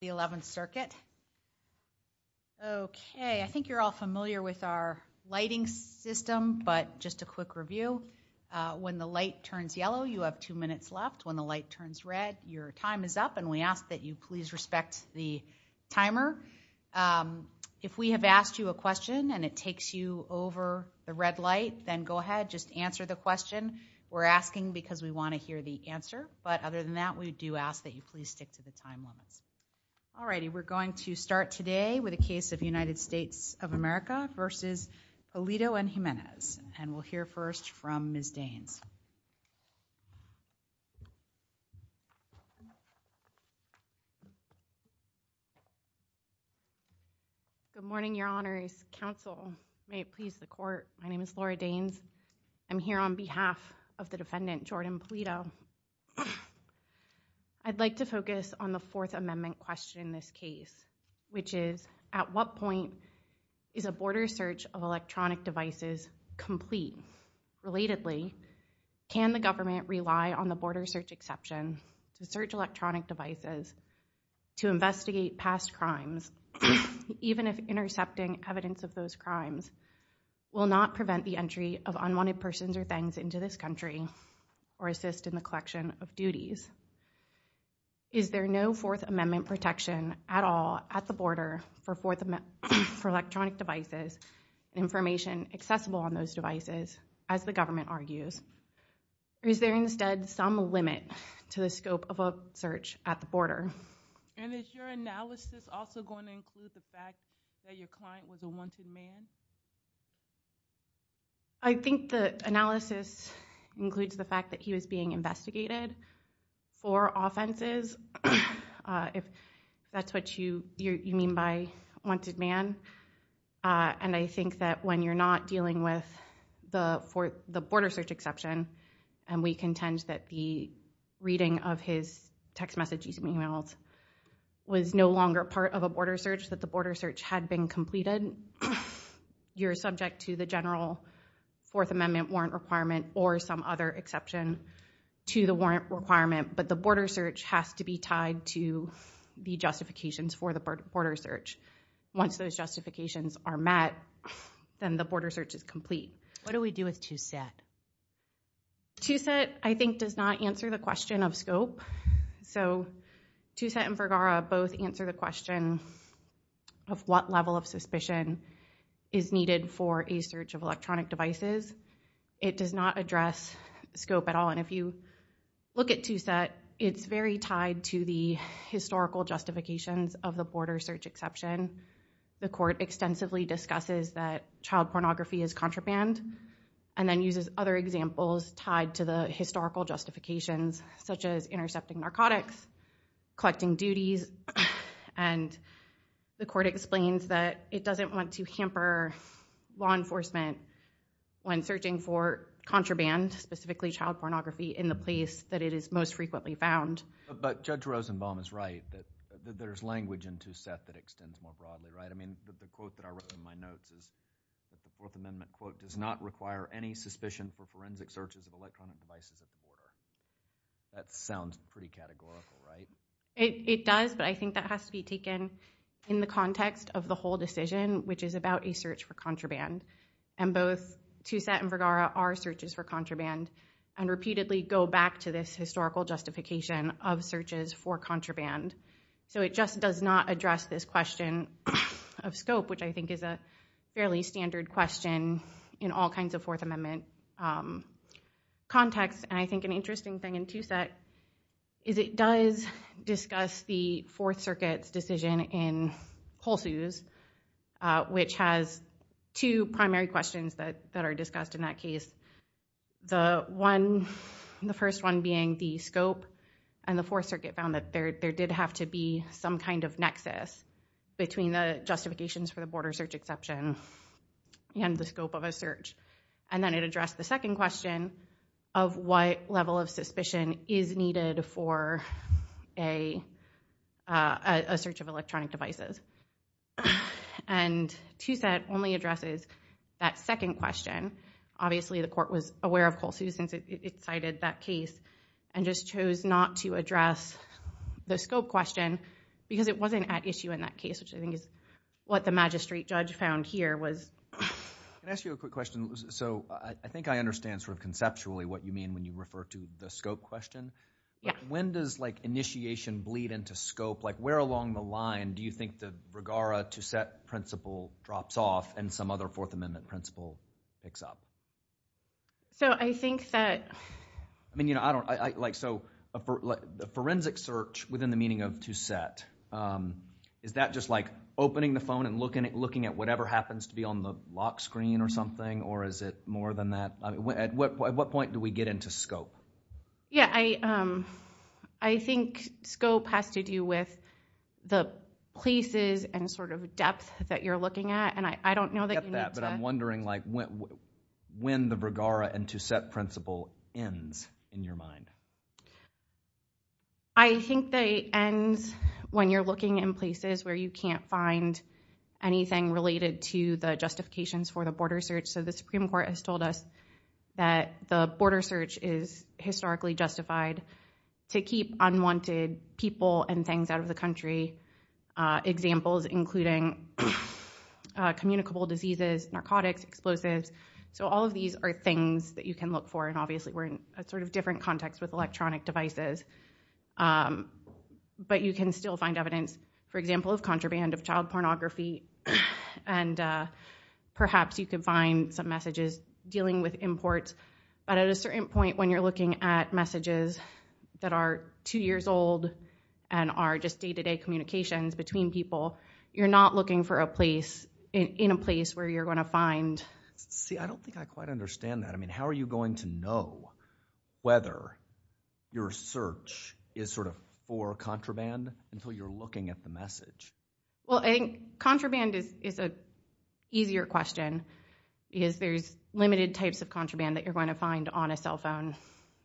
the 11th circuit. Okay, I think you're all familiar with our lighting system, but just a quick review. When the light turns yellow, you have two minutes left. When the light turns red, your time is up and we ask that you please respect the timer. If we have asked you a question and it takes you over the red light, then go ahead, just answer the question we're asking because we want to hear the answer. But other than that, we do ask that you please stick to the time limits. All righty, we're going to start today with a case of United States of America versus Pulido and Jimenez and we'll hear first from Ms. Daines. Good morning, your honors. Counsel, may it please the court. My name is Laura Daines. I'm here on behalf of the defendant, Jordan Pulido. I'd like to focus on the fourth amendment question in this case, which is at what point is a border search of electronic devices complete? Relatedly, can the government rely on the border search exception to search electronic devices to investigate past crimes, even if intercepting evidence of those crimes will not prevent the entry of unwanted persons or things into this country or assist in the collection of duties? Is there no fourth amendment protection at all at the border for electronic devices, information accessible on those devices, as the government argues? Is there instead some limit to the scope of a search at the border? And is your analysis also going to include the fact that your client was a wanted man? I think the analysis includes the fact that he was being investigated for offenses, if that's what you mean by wanted man. And I think that when you're not dealing with the border search exception, and we contend that the reading of his text messages and emails was no longer part of a border search, that the border search had been completed, you're subject to the general fourth amendment warrant requirement or some other exception to the warrant requirement. But the border search has to be tied to the justifications for the border search. Once those justifications are met, then the border search is complete. What do we do with TwoSet? TwoSet I think does not answer the question of scope. So TwoSet and Vergara both answer the question of what level of suspicion is needed for a search of electronic devices. It does not address scope at all. And if you look at TwoSet, it's very tied to the historical justifications of the border search exception. The court extensively discusses that child pornography is contraband and then uses other examples tied to the historical justifications, such as intercepting narcotics, collecting duties. And the court explains that it doesn't want to hamper law enforcement when searching for contraband, specifically child pornography, in the place that it is most frequently found. But Judge Rosenbaum is right that there's language in TwoSet that extends more broadly, right? I mean, the quote that I wrote in my notes is that the fourth amendment quote does not require any suspicion for forensic searches of electronic devices at the border. That sounds pretty categorical, right? It does, but I think that has to be taken in the context of the whole decision, which is about a search for contraband. And both TwoSet and Vergara are searches for contraband and repeatedly go back to this historical justification of searches for contraband. So it just does not address this question of scope, which I think is a fairly standard question in all kinds of Fourth Amendment contexts. And I think an interesting thing in TwoSet is it does discuss the Fourth Circuit's decision in Pulseuse, which has two primary questions that are discussed in that case. The first one being the scope, and the Fourth Circuit found that there did have to be some kind of nexus between the justifications for the border search exception and the scope of a search. And then it addressed the second question of what level of suspicion is needed for a search of electronic devices. And TwoSet only addresses that second question. Obviously, the court was aware of Pulseuse, since it cited that case, and just chose not to address the scope question, because it wasn't at issue in that case, which I think is what the magistrate judge found here was. Can I ask you a quick question? So I think I understand sort of conceptually what you mean when you refer to the scope question. When does initiation bleed into scope? Where along the line do you think the Vergara-TwoSet principle drops off and some other Fourth Amendment principle picks up? So I think that... I mean, you know, I don't, like, so a forensic search within the meaning of TwoSet, is that just like opening the phone and looking at whatever happens to be on the lock screen or something, or is it more than that? At what point do we get into scope? Yeah, I think scope has to do with the places and sort of depth that you're looking at, and I don't know that you when the Vergara and TwoSet principle ends in your mind. I think they end when you're looking in places where you can't find anything related to the justifications for the border search. So the Supreme Court has told us that the border search is historically justified to keep unwanted people and things out of the country. Examples including communicable diseases, narcotics, explosives. So all of these are things that you can look for, and obviously we're in a sort of different context with electronic devices, but you can still find evidence, for example, of contraband, of child pornography, and perhaps you can find some messages dealing with imports, but at a certain point when you're looking at messages that are two years old and are just day-to-day communications between people, you're not looking for a place in a place where you're going to find... See, I don't think I quite understand that. I mean, how are you going to know whether your search is sort of for contraband until you're looking at the message? Well, I think contraband is an easier question because there's limited types of contraband that you're going to find on a cell phone,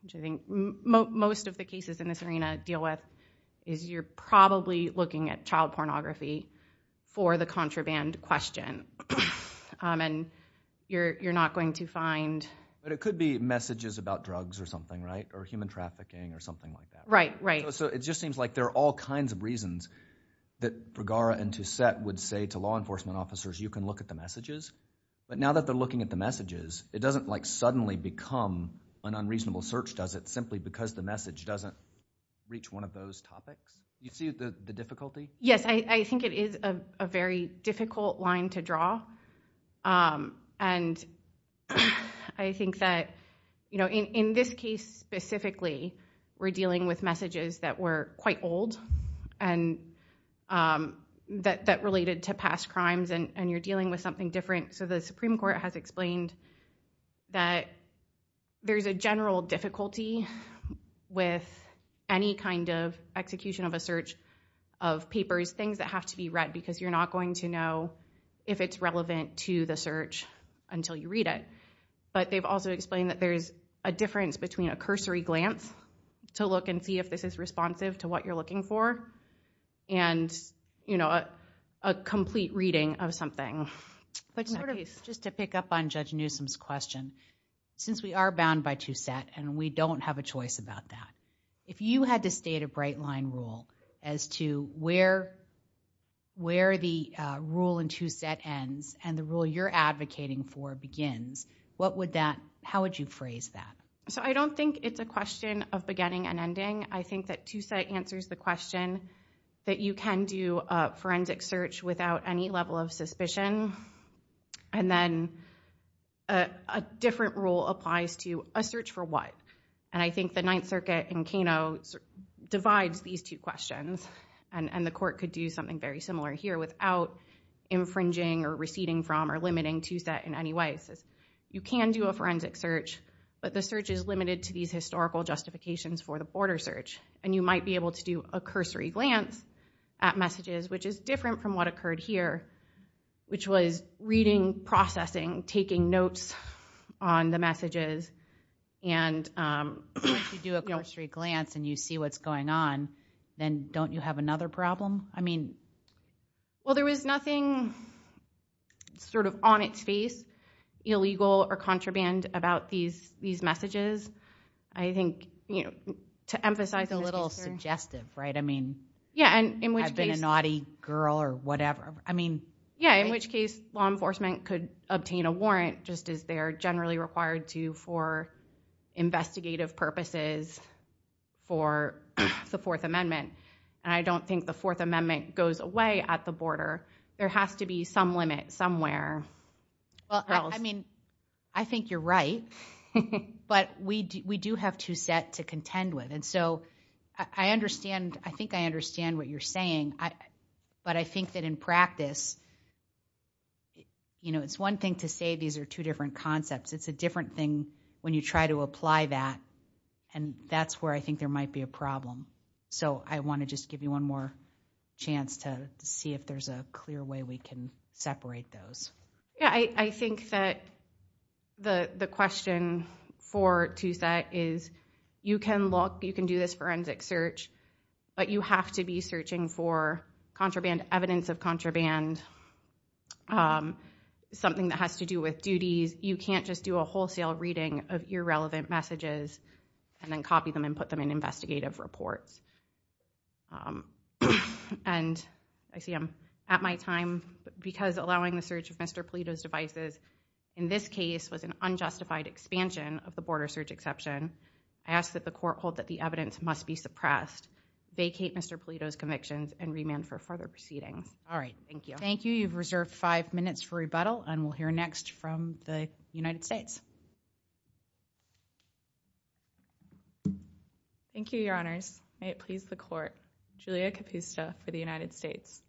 which I think most of the cases in this arena deal with, is you're probably looking at and you're not going to find... But it could be messages about drugs or something, right, or human trafficking or something like that. Right, right. So it just seems like there are all kinds of reasons that Bergara and Toussaint would say to law enforcement officers, you can look at the messages, but now that they're looking at the messages, it doesn't like suddenly become an unreasonable search, does it, simply because the message doesn't reach one of those topics? You see the difficulty? Yes, I think it is a very difficult line to draw. And I think that, you know, in this case specifically, we're dealing with messages that were quite old and that related to past crimes and you're dealing with something different. So the Supreme Court has explained that there's a general difficulty with any kind of execution of a search of papers, things that have to be read because you're not going to know if it's relevant to the search until you read it. But they've also explained that there's a difference between a cursory glance to look and see if this is responsive to what you're looking for and, you know, a complete reading of something. Just to pick up on Judge Newsom's question, since we are bound by Toussaint and we don't have a choice about that, if you had to state a bright line rule as to where where the rule in Toussaint ends and the rule you're advocating for begins, what would that, how would you phrase that? So I don't think it's a question of beginning and ending. I think that you can do a forensic search without any level of suspicion and then a different rule applies to a search for what. And I think the Ninth Circuit in Kano divides these two questions and the court could do something very similar here without infringing or receding from or limiting Toussaint in any way. It says you can do a forensic search but the search is limited to these historical justifications for the border search. And you might be able to do a cursory glance at messages which is different from what occurred here, which was reading, processing, taking notes on the messages. And if you do a cursory glance and you see what's going on, then don't you have another problem? I mean, well there was nothing sort of on its face illegal or contraband about these messages. I think, you know, to emphasize a little suggestive, right? I mean, I've been a naughty girl or whatever. I mean, yeah, in which case law enforcement could obtain a warrant just as they are generally required to for investigative purposes for the Fourth Amendment. And I don't think the Fourth Amendment goes away at the border. There has to be some limit somewhere. Well, I mean, I think you're right. But we do have Toussaint to contend with. And so I understand, I think I understand what you're saying. But I think that in practice, you know, it's one thing to say these are two different concepts. It's a different thing when you try to apply that. And that's where I think there might be a problem. So I want to just give you one more chance to see if there's a clear way we can separate those. Yeah, I think that the question for Toussaint is you can look, you can do this forensic search, but you have to be searching for contraband, evidence of contraband, something that has to do with duties. You can't just do a wholesale reading of irrelevant messages and then copy them and put them in investigative reports. And I see I'm at my time because allowing the search of Mr. Polito's devices in this case was an unjustified expansion of the border search exception. I ask that the court hold that the evidence must be suppressed, vacate Mr. Polito's convictions, and remand for further proceedings. All right. Thank you. Thank you. You've reserved five minutes for rebuttal. And we'll hear next from the United States. Thank you, Your Honors. May it please the court. Julia Capusta for the United States.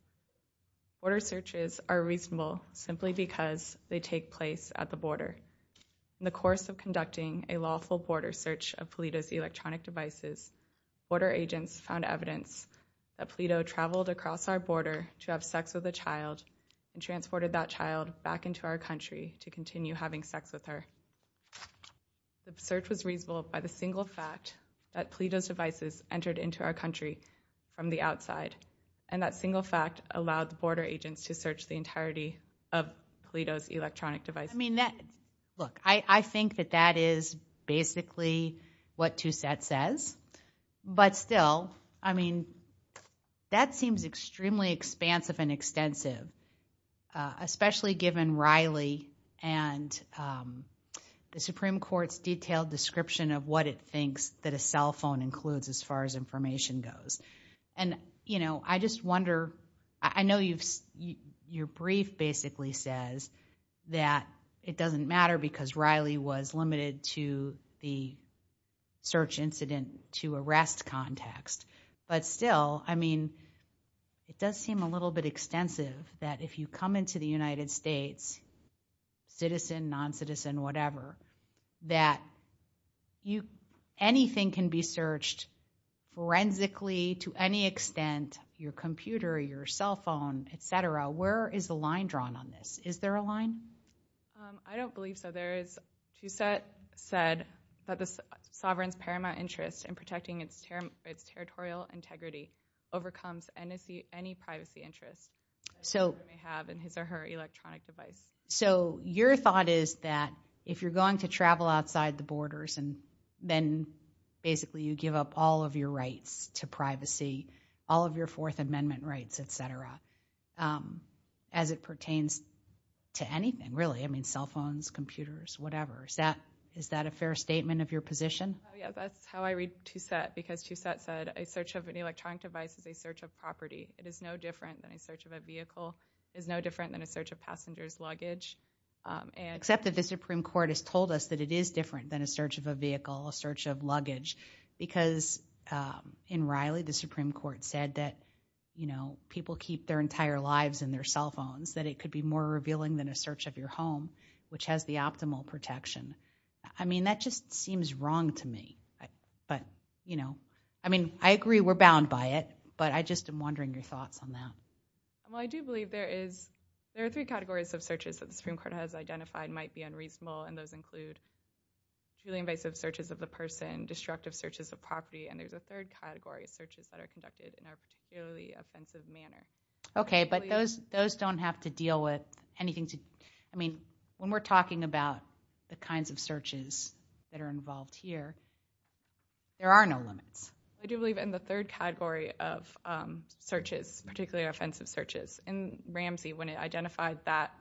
Border searches are reasonable simply because they take place at the border. In the course of conducting a lawful border search of Polito's electronic devices, border agents found evidence that Polito traveled across our border to have sex with a child and transported that child back into our country to continue having sex with her. The search was reasonable by the single fact that Polito's devices entered into our country from the outside. And that single fact allowed the border agents to search the entirety of Polito's electronic device. I mean, look, I think that that is basically what Toussaint says. But still, I mean, that seems extremely expansive and extensive, especially given Riley and the Supreme Court's detailed description of what it thinks that a cell phone includes as far as information goes. And, you know, I just wonder, I know your brief basically says that it doesn't to arrest context. But still, I mean, it does seem a little bit extensive that if you come into the United States, citizen, non-citizen, whatever, that anything can be searched forensically to any extent, your computer, your cell phone, et cetera. Where is the line drawn on this? Is there a line? I don't believe so. There is, Toussaint said that the sovereign's paramount interest in protecting its territorial integrity overcomes any privacy interest. So you may have in his or her electronic device. So your thought is that if you're going to travel outside the borders and then basically you give up all of your rights to privacy, all of your Fourth Amendment rights, et cetera, um, as it pertains to anything, really, I mean, cell phones, computers, whatever, is that, is that a fair statement of your position? Yeah, that's how I read Toussaint, because Toussaint said a search of an electronic device is a search of property. It is no different than a search of a vehicle, is no different than a search of passenger's luggage. Except that the Supreme Court has told us that it is different than a search of a vehicle, a search of luggage, because, um, in Riley, the Supreme Court said that, you know, people keep their entire lives in their cell phones, that it could be more revealing than a search of your home, which has the optimal protection. I mean, that just seems wrong to me. But, you know, I mean, I agree we're bound by it, but I just am wondering your thoughts on that. Well, I do believe there is, there are three categories of searches that the Supreme Court has identified might be unreasonable, and those include truly invasive searches of the person, destructive searches of property, and there's a third category of searches that are conducted in a particularly offensive manner. Okay, but those, those don't have to deal with anything to, I mean, when we're talking about the kinds of searches that are involved here, there are no limits. I do believe in the third category of searches, particularly offensive searches, and Ramsey, when it identified that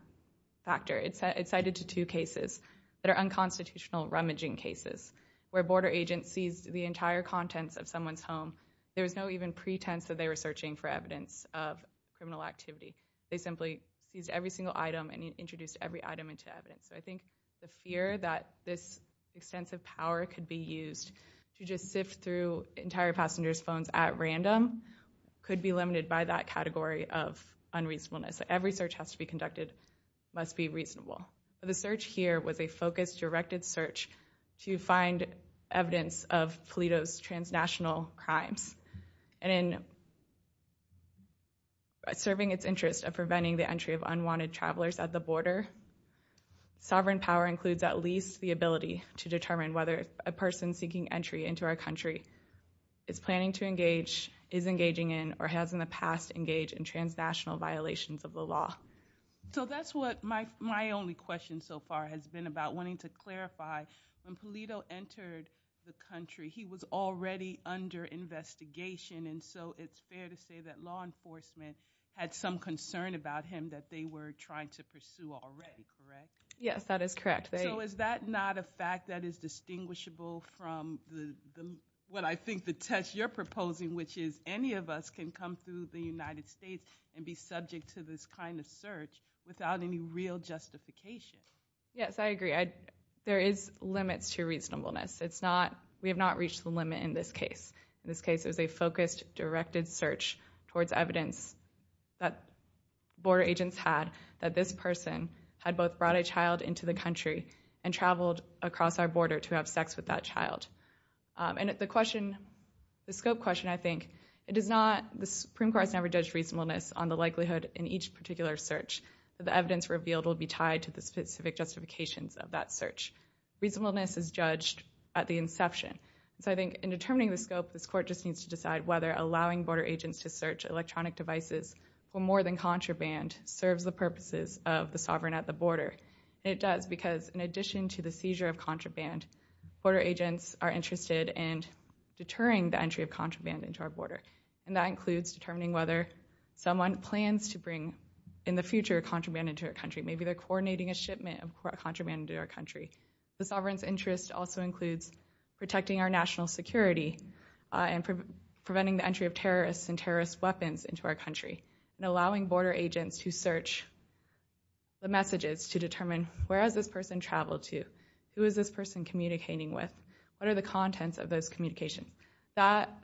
factor, it cited two cases that are unconstitutional rummaging cases, where border agents seized the entire contents of someone's home. There was no even pretense that they were searching for evidence of criminal activity. They simply seized every single item and introduced every item into evidence. So I think the fear that this extensive power could be used to just sift through entire passengers' phones at random could be limited by that category of unreasonableness. Every search has to be conducted, must be reasonable. The search here was a focused, directed search to find evidence of Toledo's transnational crimes, and in serving its interest of preventing the entry of unwanted travelers at the border, sovereign power includes at least the ability to determine whether a person seeking entry into our country is planning to engage, is engaging in, or has in the past engaged in transnational violations of the law. So that's what my only question so far has been about, wanting to clarify, when Toledo entered the country, he was already under investigation, and so it's fair to say that law enforcement had some concern about him that they were trying to pursue already, correct? Yes, that is correct. So is that not a fact that is distinguishable from what I think the test you're proposing, which is any of us can come through the United States and be subject to this kind of search without any real justification? Yes, I agree. There is limits to reasonableness. It's not, we have not reached the limit in this case. In this case, it was a focused, directed search towards evidence that border agents had that this person had both brought a child into the country and traveled across our border to have sex with that child. And the question, the scope question, I think, it is not, the Supreme Court has never judged reasonableness on the likelihood in each particular search that the evidence revealed will be tied to the specific justifications of that search. Reasonableness is judged at the inception. So I think in determining the scope, this court just needs to decide whether allowing border agents to search electronic devices for more than a month in addition to the seizure of contraband, border agents are interested in deterring the entry of contraband into our border. And that includes determining whether someone plans to bring in the future contraband into our country. Maybe they're coordinating a shipment of contraband into our country. The sovereign's interest also includes protecting our national security and preventing the entry of terrorists and terrorist weapons into our country and allowing border agents to search the messages to determine where has this person traveled to, who is this person communicating with, what are the contents of those communications.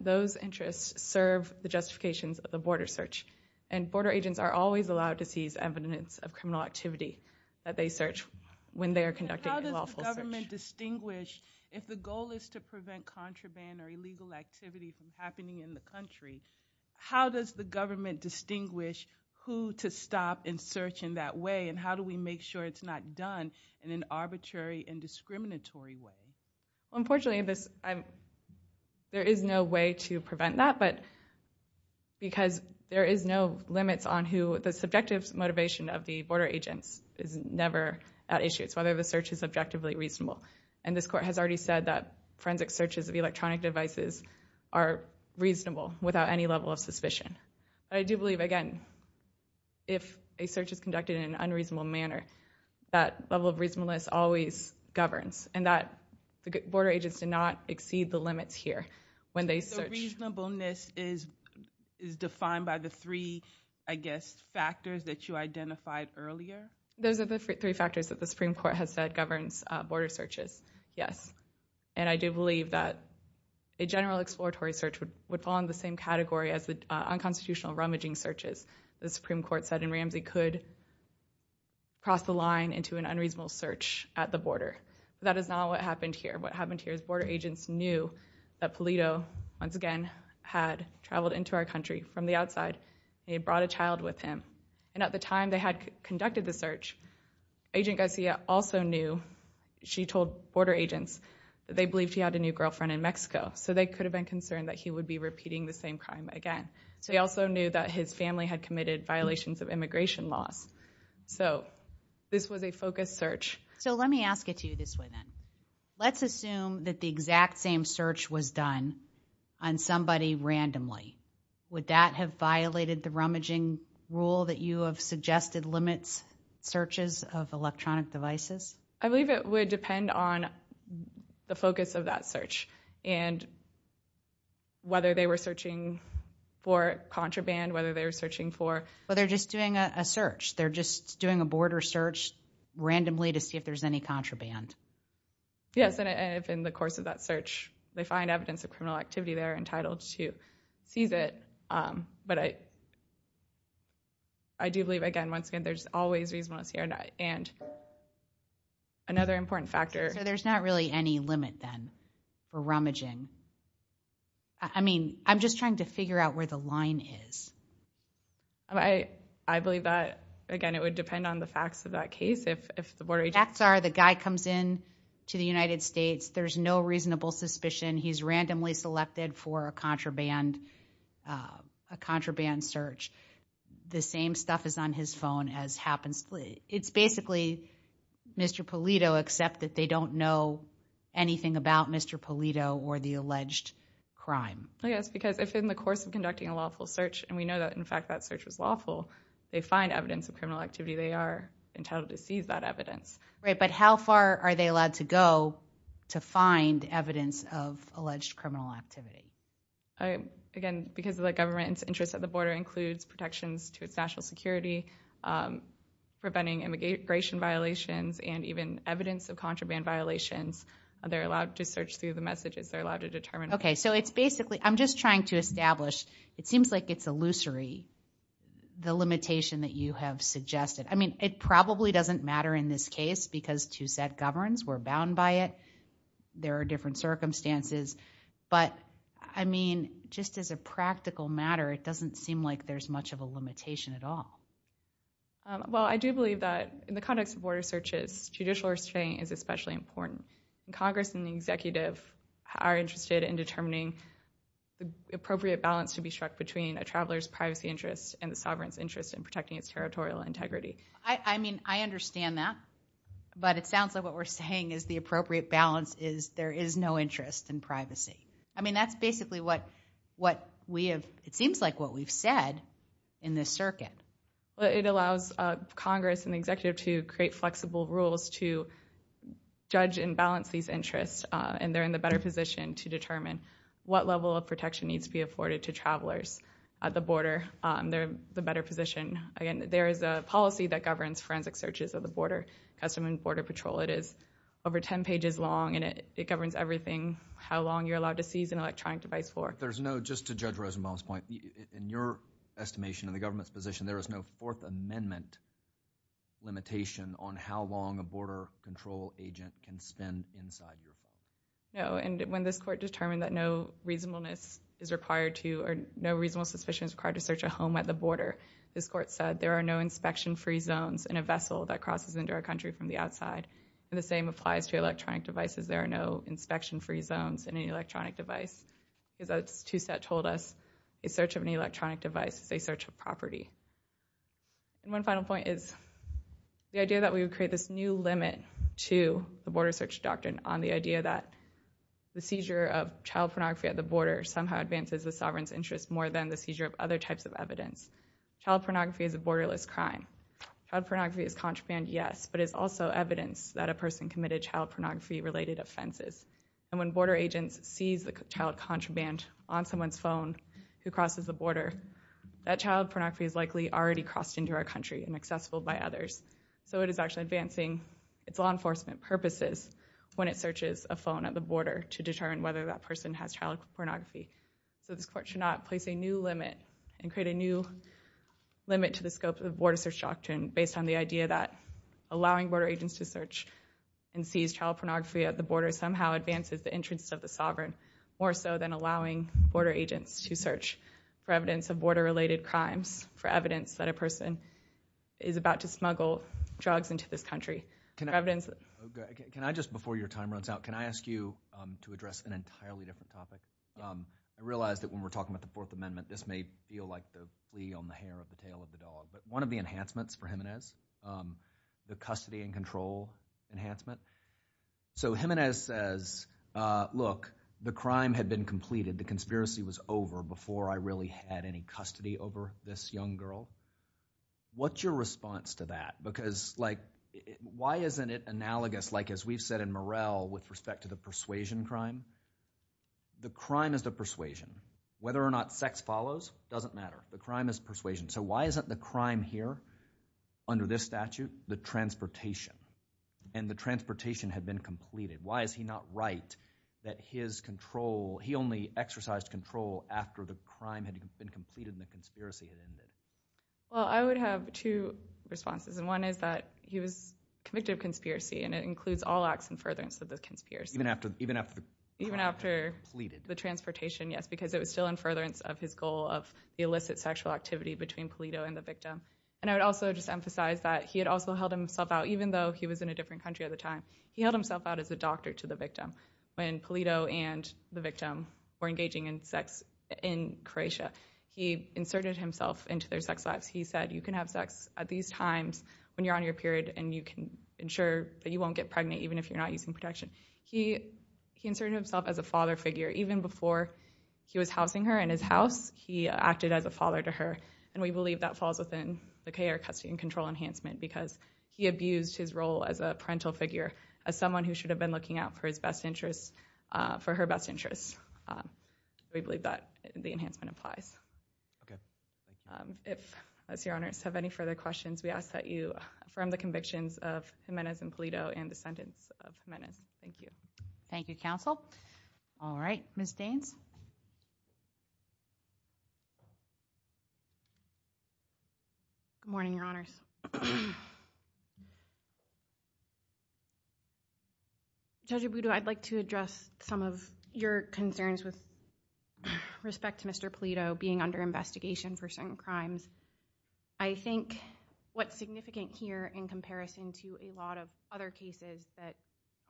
Those interests serve the justifications of the border search. And border agents are always allowed to seize evidence of criminal activity that they search when they are conducting a lawful search. How does the government distinguish if the goal is to prevent contraband or illegal activity from happening in the country? How does the government distinguish who to stop and search in that way and how do we make sure it's not done in an arbitrary and discriminatory way? Unfortunately, there is no way to prevent that because there is no limits on who the subjective motivation of the border agents is never at issue. It's whether the search is objectively reasonable. And this court has already said that forensic searches of electronic devices are reasonable without any level of suspicion. But I do believe, again, if a search is conducted in an unreasonable manner, that level of reasonableness always governs and that the border agents do not exceed the limits here when they search. So reasonableness is defined by the three, I guess, factors that you identified earlier? Those are the three factors that the Supreme Court has said governs border searches, yes. And I do believe that a general exploratory search would fall in the same category as the unconstitutional rummaging searches, the Supreme Court said, and Ramsey could cross the line into an unreasonable search at the border. That is not what happened here. What happened here is border agents knew that Pulido, once again, had traveled into our country from the outside. He had brought a child with him. And at the time they had conducted the search, Agent Garcia also knew, she told border agents, that they believed he had a new girlfriend in Mexico. So they could have been concerned that he would be repeating the same crime again. So he also knew that his family had committed violations of immigration laws. So this was a focused search. So let me ask it to you this way then. Let's assume that the exact same search was done on somebody randomly. Would that have violated the rummaging rule that you have suggested limits searches of electronic devices? I believe it would depend on the focus of that search and whether they were searching for contraband, whether they were searching for... But they're just doing a search. They're just doing a border search randomly to see if there's any contraband. Yes. And if in the course of that search, they find evidence of criminal activity, they're entitled to seize it. But I do believe, again, once again, there's always reasonableness here. And another important factor... So there's not really any limit then for rummaging. I mean, I'm just trying to figure out where the line is. I believe that, again, it would depend on the facts of that case. If the border agent... To the United States, there's no reasonable suspicion. He's randomly selected for a contraband search. The same stuff is on his phone as happens. It's basically Mr. Polito, except that they don't know anything about Mr. Polito or the alleged crime. Yes. Because if in the course of conducting a lawful search, and we know that, in fact, that search was lawful, they find evidence of criminal activity, they are entitled to seize that evidence. Right. But how far are they allowed to go to find evidence of alleged criminal activity? Again, because of the government's interest at the border includes protections to its national security, preventing immigration violations, and even evidence of contraband violations, they're allowed to search through the messages. They're allowed to determine... Okay. So it's basically... I'm just trying to establish. It seems like it's illusory, the limitation that you have suggested. I mean, it probably doesn't matter in this case because TwoSet governs. We're bound by it. There are different circumstances. But I mean, just as a practical matter, it doesn't seem like there's much of a limitation at all. Well, I do believe that in the context of border searches, judicial restraint is especially important. Congress and the executive are interested in determining the appropriate balance to be struck between a traveler's privacy interests and the sovereign's interest in protecting its territorial integrity. I mean, I understand that. But it sounds like what we're saying is the appropriate balance is there is no interest in privacy. I mean, that's basically what we have... It seems like what we've said in this circuit. It allows Congress and the executive to create flexible rules to judge and balance these interests. And they're in the better position to determine what level of protection needs to be afforded to travelers at the border. They're in the better position. Again, there is a policy that governs forensic searches of the border, Customs and Border Patrol. It is over 10 pages long, and it governs everything, how long you're allowed to seize an electronic device for. There's no, just to Judge Rosenbaum's point, in your estimation of the government's position, there is no Fourth Amendment limitation on how long a border control agent can spend inside your home. No. And when this court determined that no reasonableness is required to, or no reasonable suspicion is required to search a home at the border, this court said, there are no inspection-free zones in a vessel that crosses into our country from the outside. And the same applies to electronic devices. There are no inspection-free zones in an electronic device. Because as Toussaint told us, a search of an electronic device is a search of property. And one final point is the idea that we would create this new limit to the border search doctrine on the idea that the seizure of child pornography at the border somehow advances the sovereign's interest more than the seizure of other types of evidence. Child pornography is a borderless crime. Child pornography is contraband, yes, but it's also evidence that a person committed child pornography-related offenses. And when border agents seize the child contraband on someone's phone who crosses the border, that child pornography is likely already crossed into our country and accessible by others. So it is actually advancing its purposes when it searches a phone at the border to determine whether that person has child pornography. So this court should not place a new limit and create a new limit to the scope of the border search doctrine based on the idea that allowing border agents to search and seize child pornography at the border somehow advances the interest of the sovereign more so than allowing border agents to search for evidence of border-related crimes, for evidence that a person is about to smuggle drugs into this country. Can I just, before your time runs out, can I ask you to address an entirely different topic? I realize that when we're talking about the Fourth Amendment, this may feel like the flea on the hair of the tail of the dog, but one of the enhancements for Jimenez, the custody and control enhancement. So Jimenez says, look, the crime had been completed, the conspiracy was over before I really had any custody over this young girl. What's your response to that? Because, like, why isn't it analogous, like as we've said in Morel with respect to the persuasion crime? The crime is the persuasion. Whether or not sex follows, doesn't matter. The crime is persuasion. So why isn't the crime here, under this statute, the transportation? And the transportation had been completed. Why is he not right that his control, he only exercised control after the crime had been completed and the conspiracy had ended? Well, I would have two responses. And one is that he was convicted of conspiracy, and it includes all acts in furtherance of the conspiracy. Even after the crime was completed? Even after the transportation, yes, because it was still in furtherance of his goal of the illicit sexual activity between Polito and the victim. And I would also just emphasize that he had also held himself out, even though he was in a different country at the time, he held himself out as a doctor to the victim. When Polito and the victim were engaging in sex in Croatia, he inserted himself into their sex lives. He said, you can have sex at these times when you're on your period, and you can ensure that you won't get pregnant even if you're not using protection. He inserted himself as a father figure. Even before he was housing her in his house, he acted as a father to her. And we believe that falls within the KR custody and control enhancement, because he abused his role as a parental figure, as someone who should have been looking out for his best interests, for her best interests. We believe that the enhancement applies. Okay. If your honors have any further questions, we ask that you from the convictions of Jimenez and Polito and descendants of Jimenez. Thank you. Thank you, counsel. All right, Ms. Good morning, your honors. Judge Abudo, I'd like to address some of your concerns with respect to Mr. Polito being under investigation for certain crimes. I think what's significant here in comparison to a lot of other cases that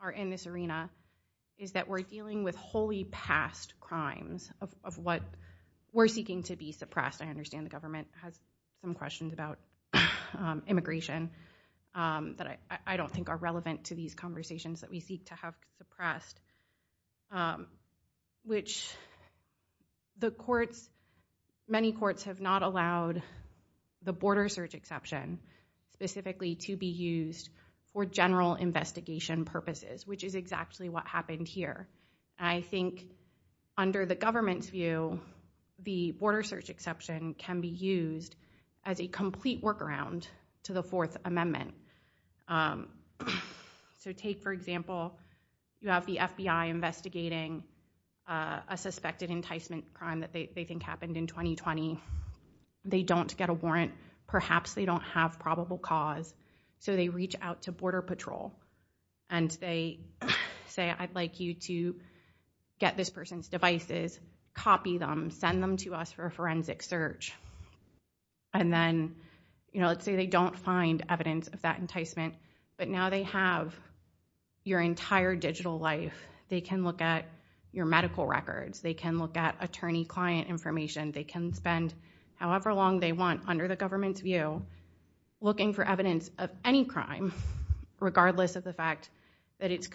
are in this arena is that we're dealing with wholly past crimes of what we're seeking to suppress. I understand the government has some questions about immigration that I don't think are relevant to these conversations that we seek to have suppressed, which the courts, many courts have not allowed the border search exception specifically to be used for general investigation purposes, which is exactly what happened here. I think under the government's the border search exception can be used as a complete workaround to the Fourth Amendment. So take, for example, you have the FBI investigating a suspected enticement crime that they think happened in 2020. They don't get a warrant. Perhaps they don't have probable cause. So they reach out to Border Patrol and they say, I'd like you to get this person's devices, copy them, send them to us for a forensic search. And then, you know, let's say they don't find evidence of that enticement, but now they have your entire digital life. They can look at your medical records. They can look at attorney-client information. They can spend however long they want under the government's view looking for evidence of any crime, regardless of the fact that it's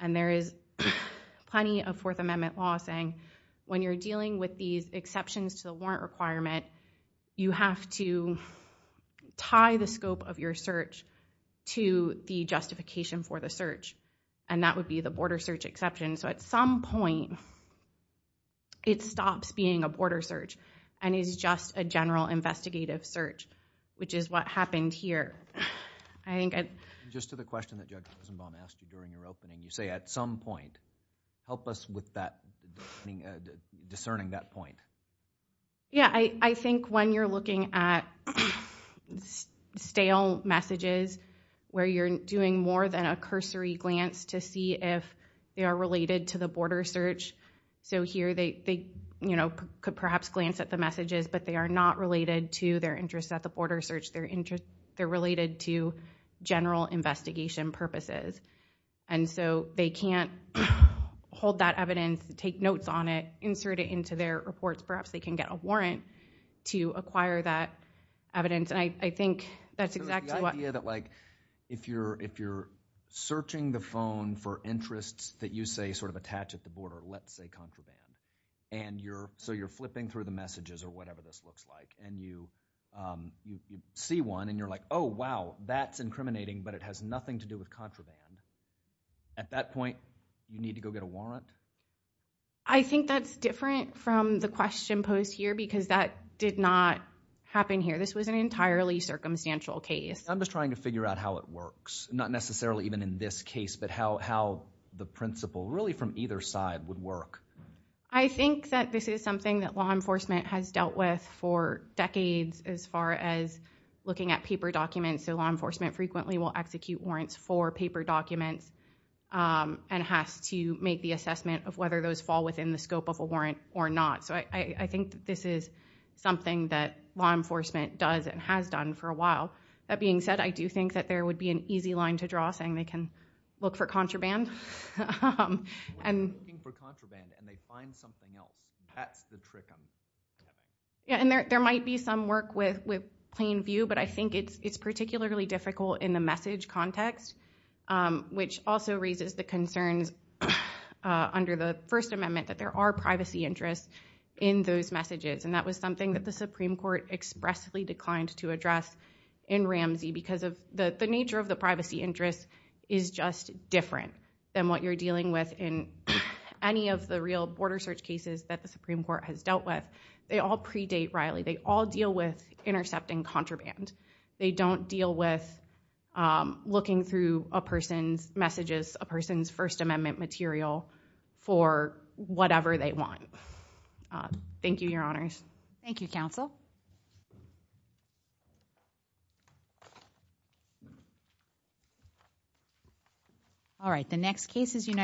And there is plenty of Fourth Amendment law saying when you're dealing with these exceptions to the warrant requirement, you have to tie the scope of your search to the justification for the search. And that would be the border search exception. So at some point, it stops being a border search and is just a general investigative search, which is what happened here. I think just to the question that Judge Rosenbaum asked you during your opening, you say at some point, help us with that, discerning that point. Yeah, I think when you're looking at stale messages, where you're doing more than a cursory glance to see if they are related to the border search. So here they, you know, could perhaps glance at the messages, but they are not related to their interests at the border search. They're related to general investigation purposes. And so they can't hold that evidence, take notes on it, insert it into their reports. Perhaps they can get a warrant to acquire that evidence. And I think that's exactly what— So it's the idea that, like, if you're searching the phone for interests that you say sort of attach at the border, let's say contraband, and you're—so you're flipping through the messages or whatever this looks like, and you see one, and you're like, oh, wow, that's incriminating, but it has nothing to do with contraband. At that point, you need to go get a warrant? I think that's different from the question posed here because that did not happen here. This was an entirely circumstantial case. I'm just trying to figure out how it works, not necessarily even in this case, but how the principle really from either side would work. I think that this is something that law enforcement has dealt with for decades as far as looking at paper documents. So law enforcement frequently will execute warrants for paper documents and has to make the assessment of whether those fall within the scope of a warrant or not. So I think that this is something that law enforcement does and has done for a while. That being said, I do think that there would be an easy line to draw saying they can look for contraband. When they're looking for contraband and they find something else, that's the trick. Yeah, and there might be some work with plain view, but I think it's particularly difficult in the message context, which also raises the concerns under the First Amendment that there are privacy interests in those messages. And that was something that the Supreme Court expressly declined to address in Ramsey because the nature of the privacy interest is just different than what you're dealing with in any of the real border search cases that the Supreme Court has dealt with. They all predate Riley. They all deal with intercepting contraband. They don't deal with looking through a person's messages, a person's First Amendment material for whatever they want. Thank you, Your Honors. Thank you, Counsel. Thank you. All right, the next case is United.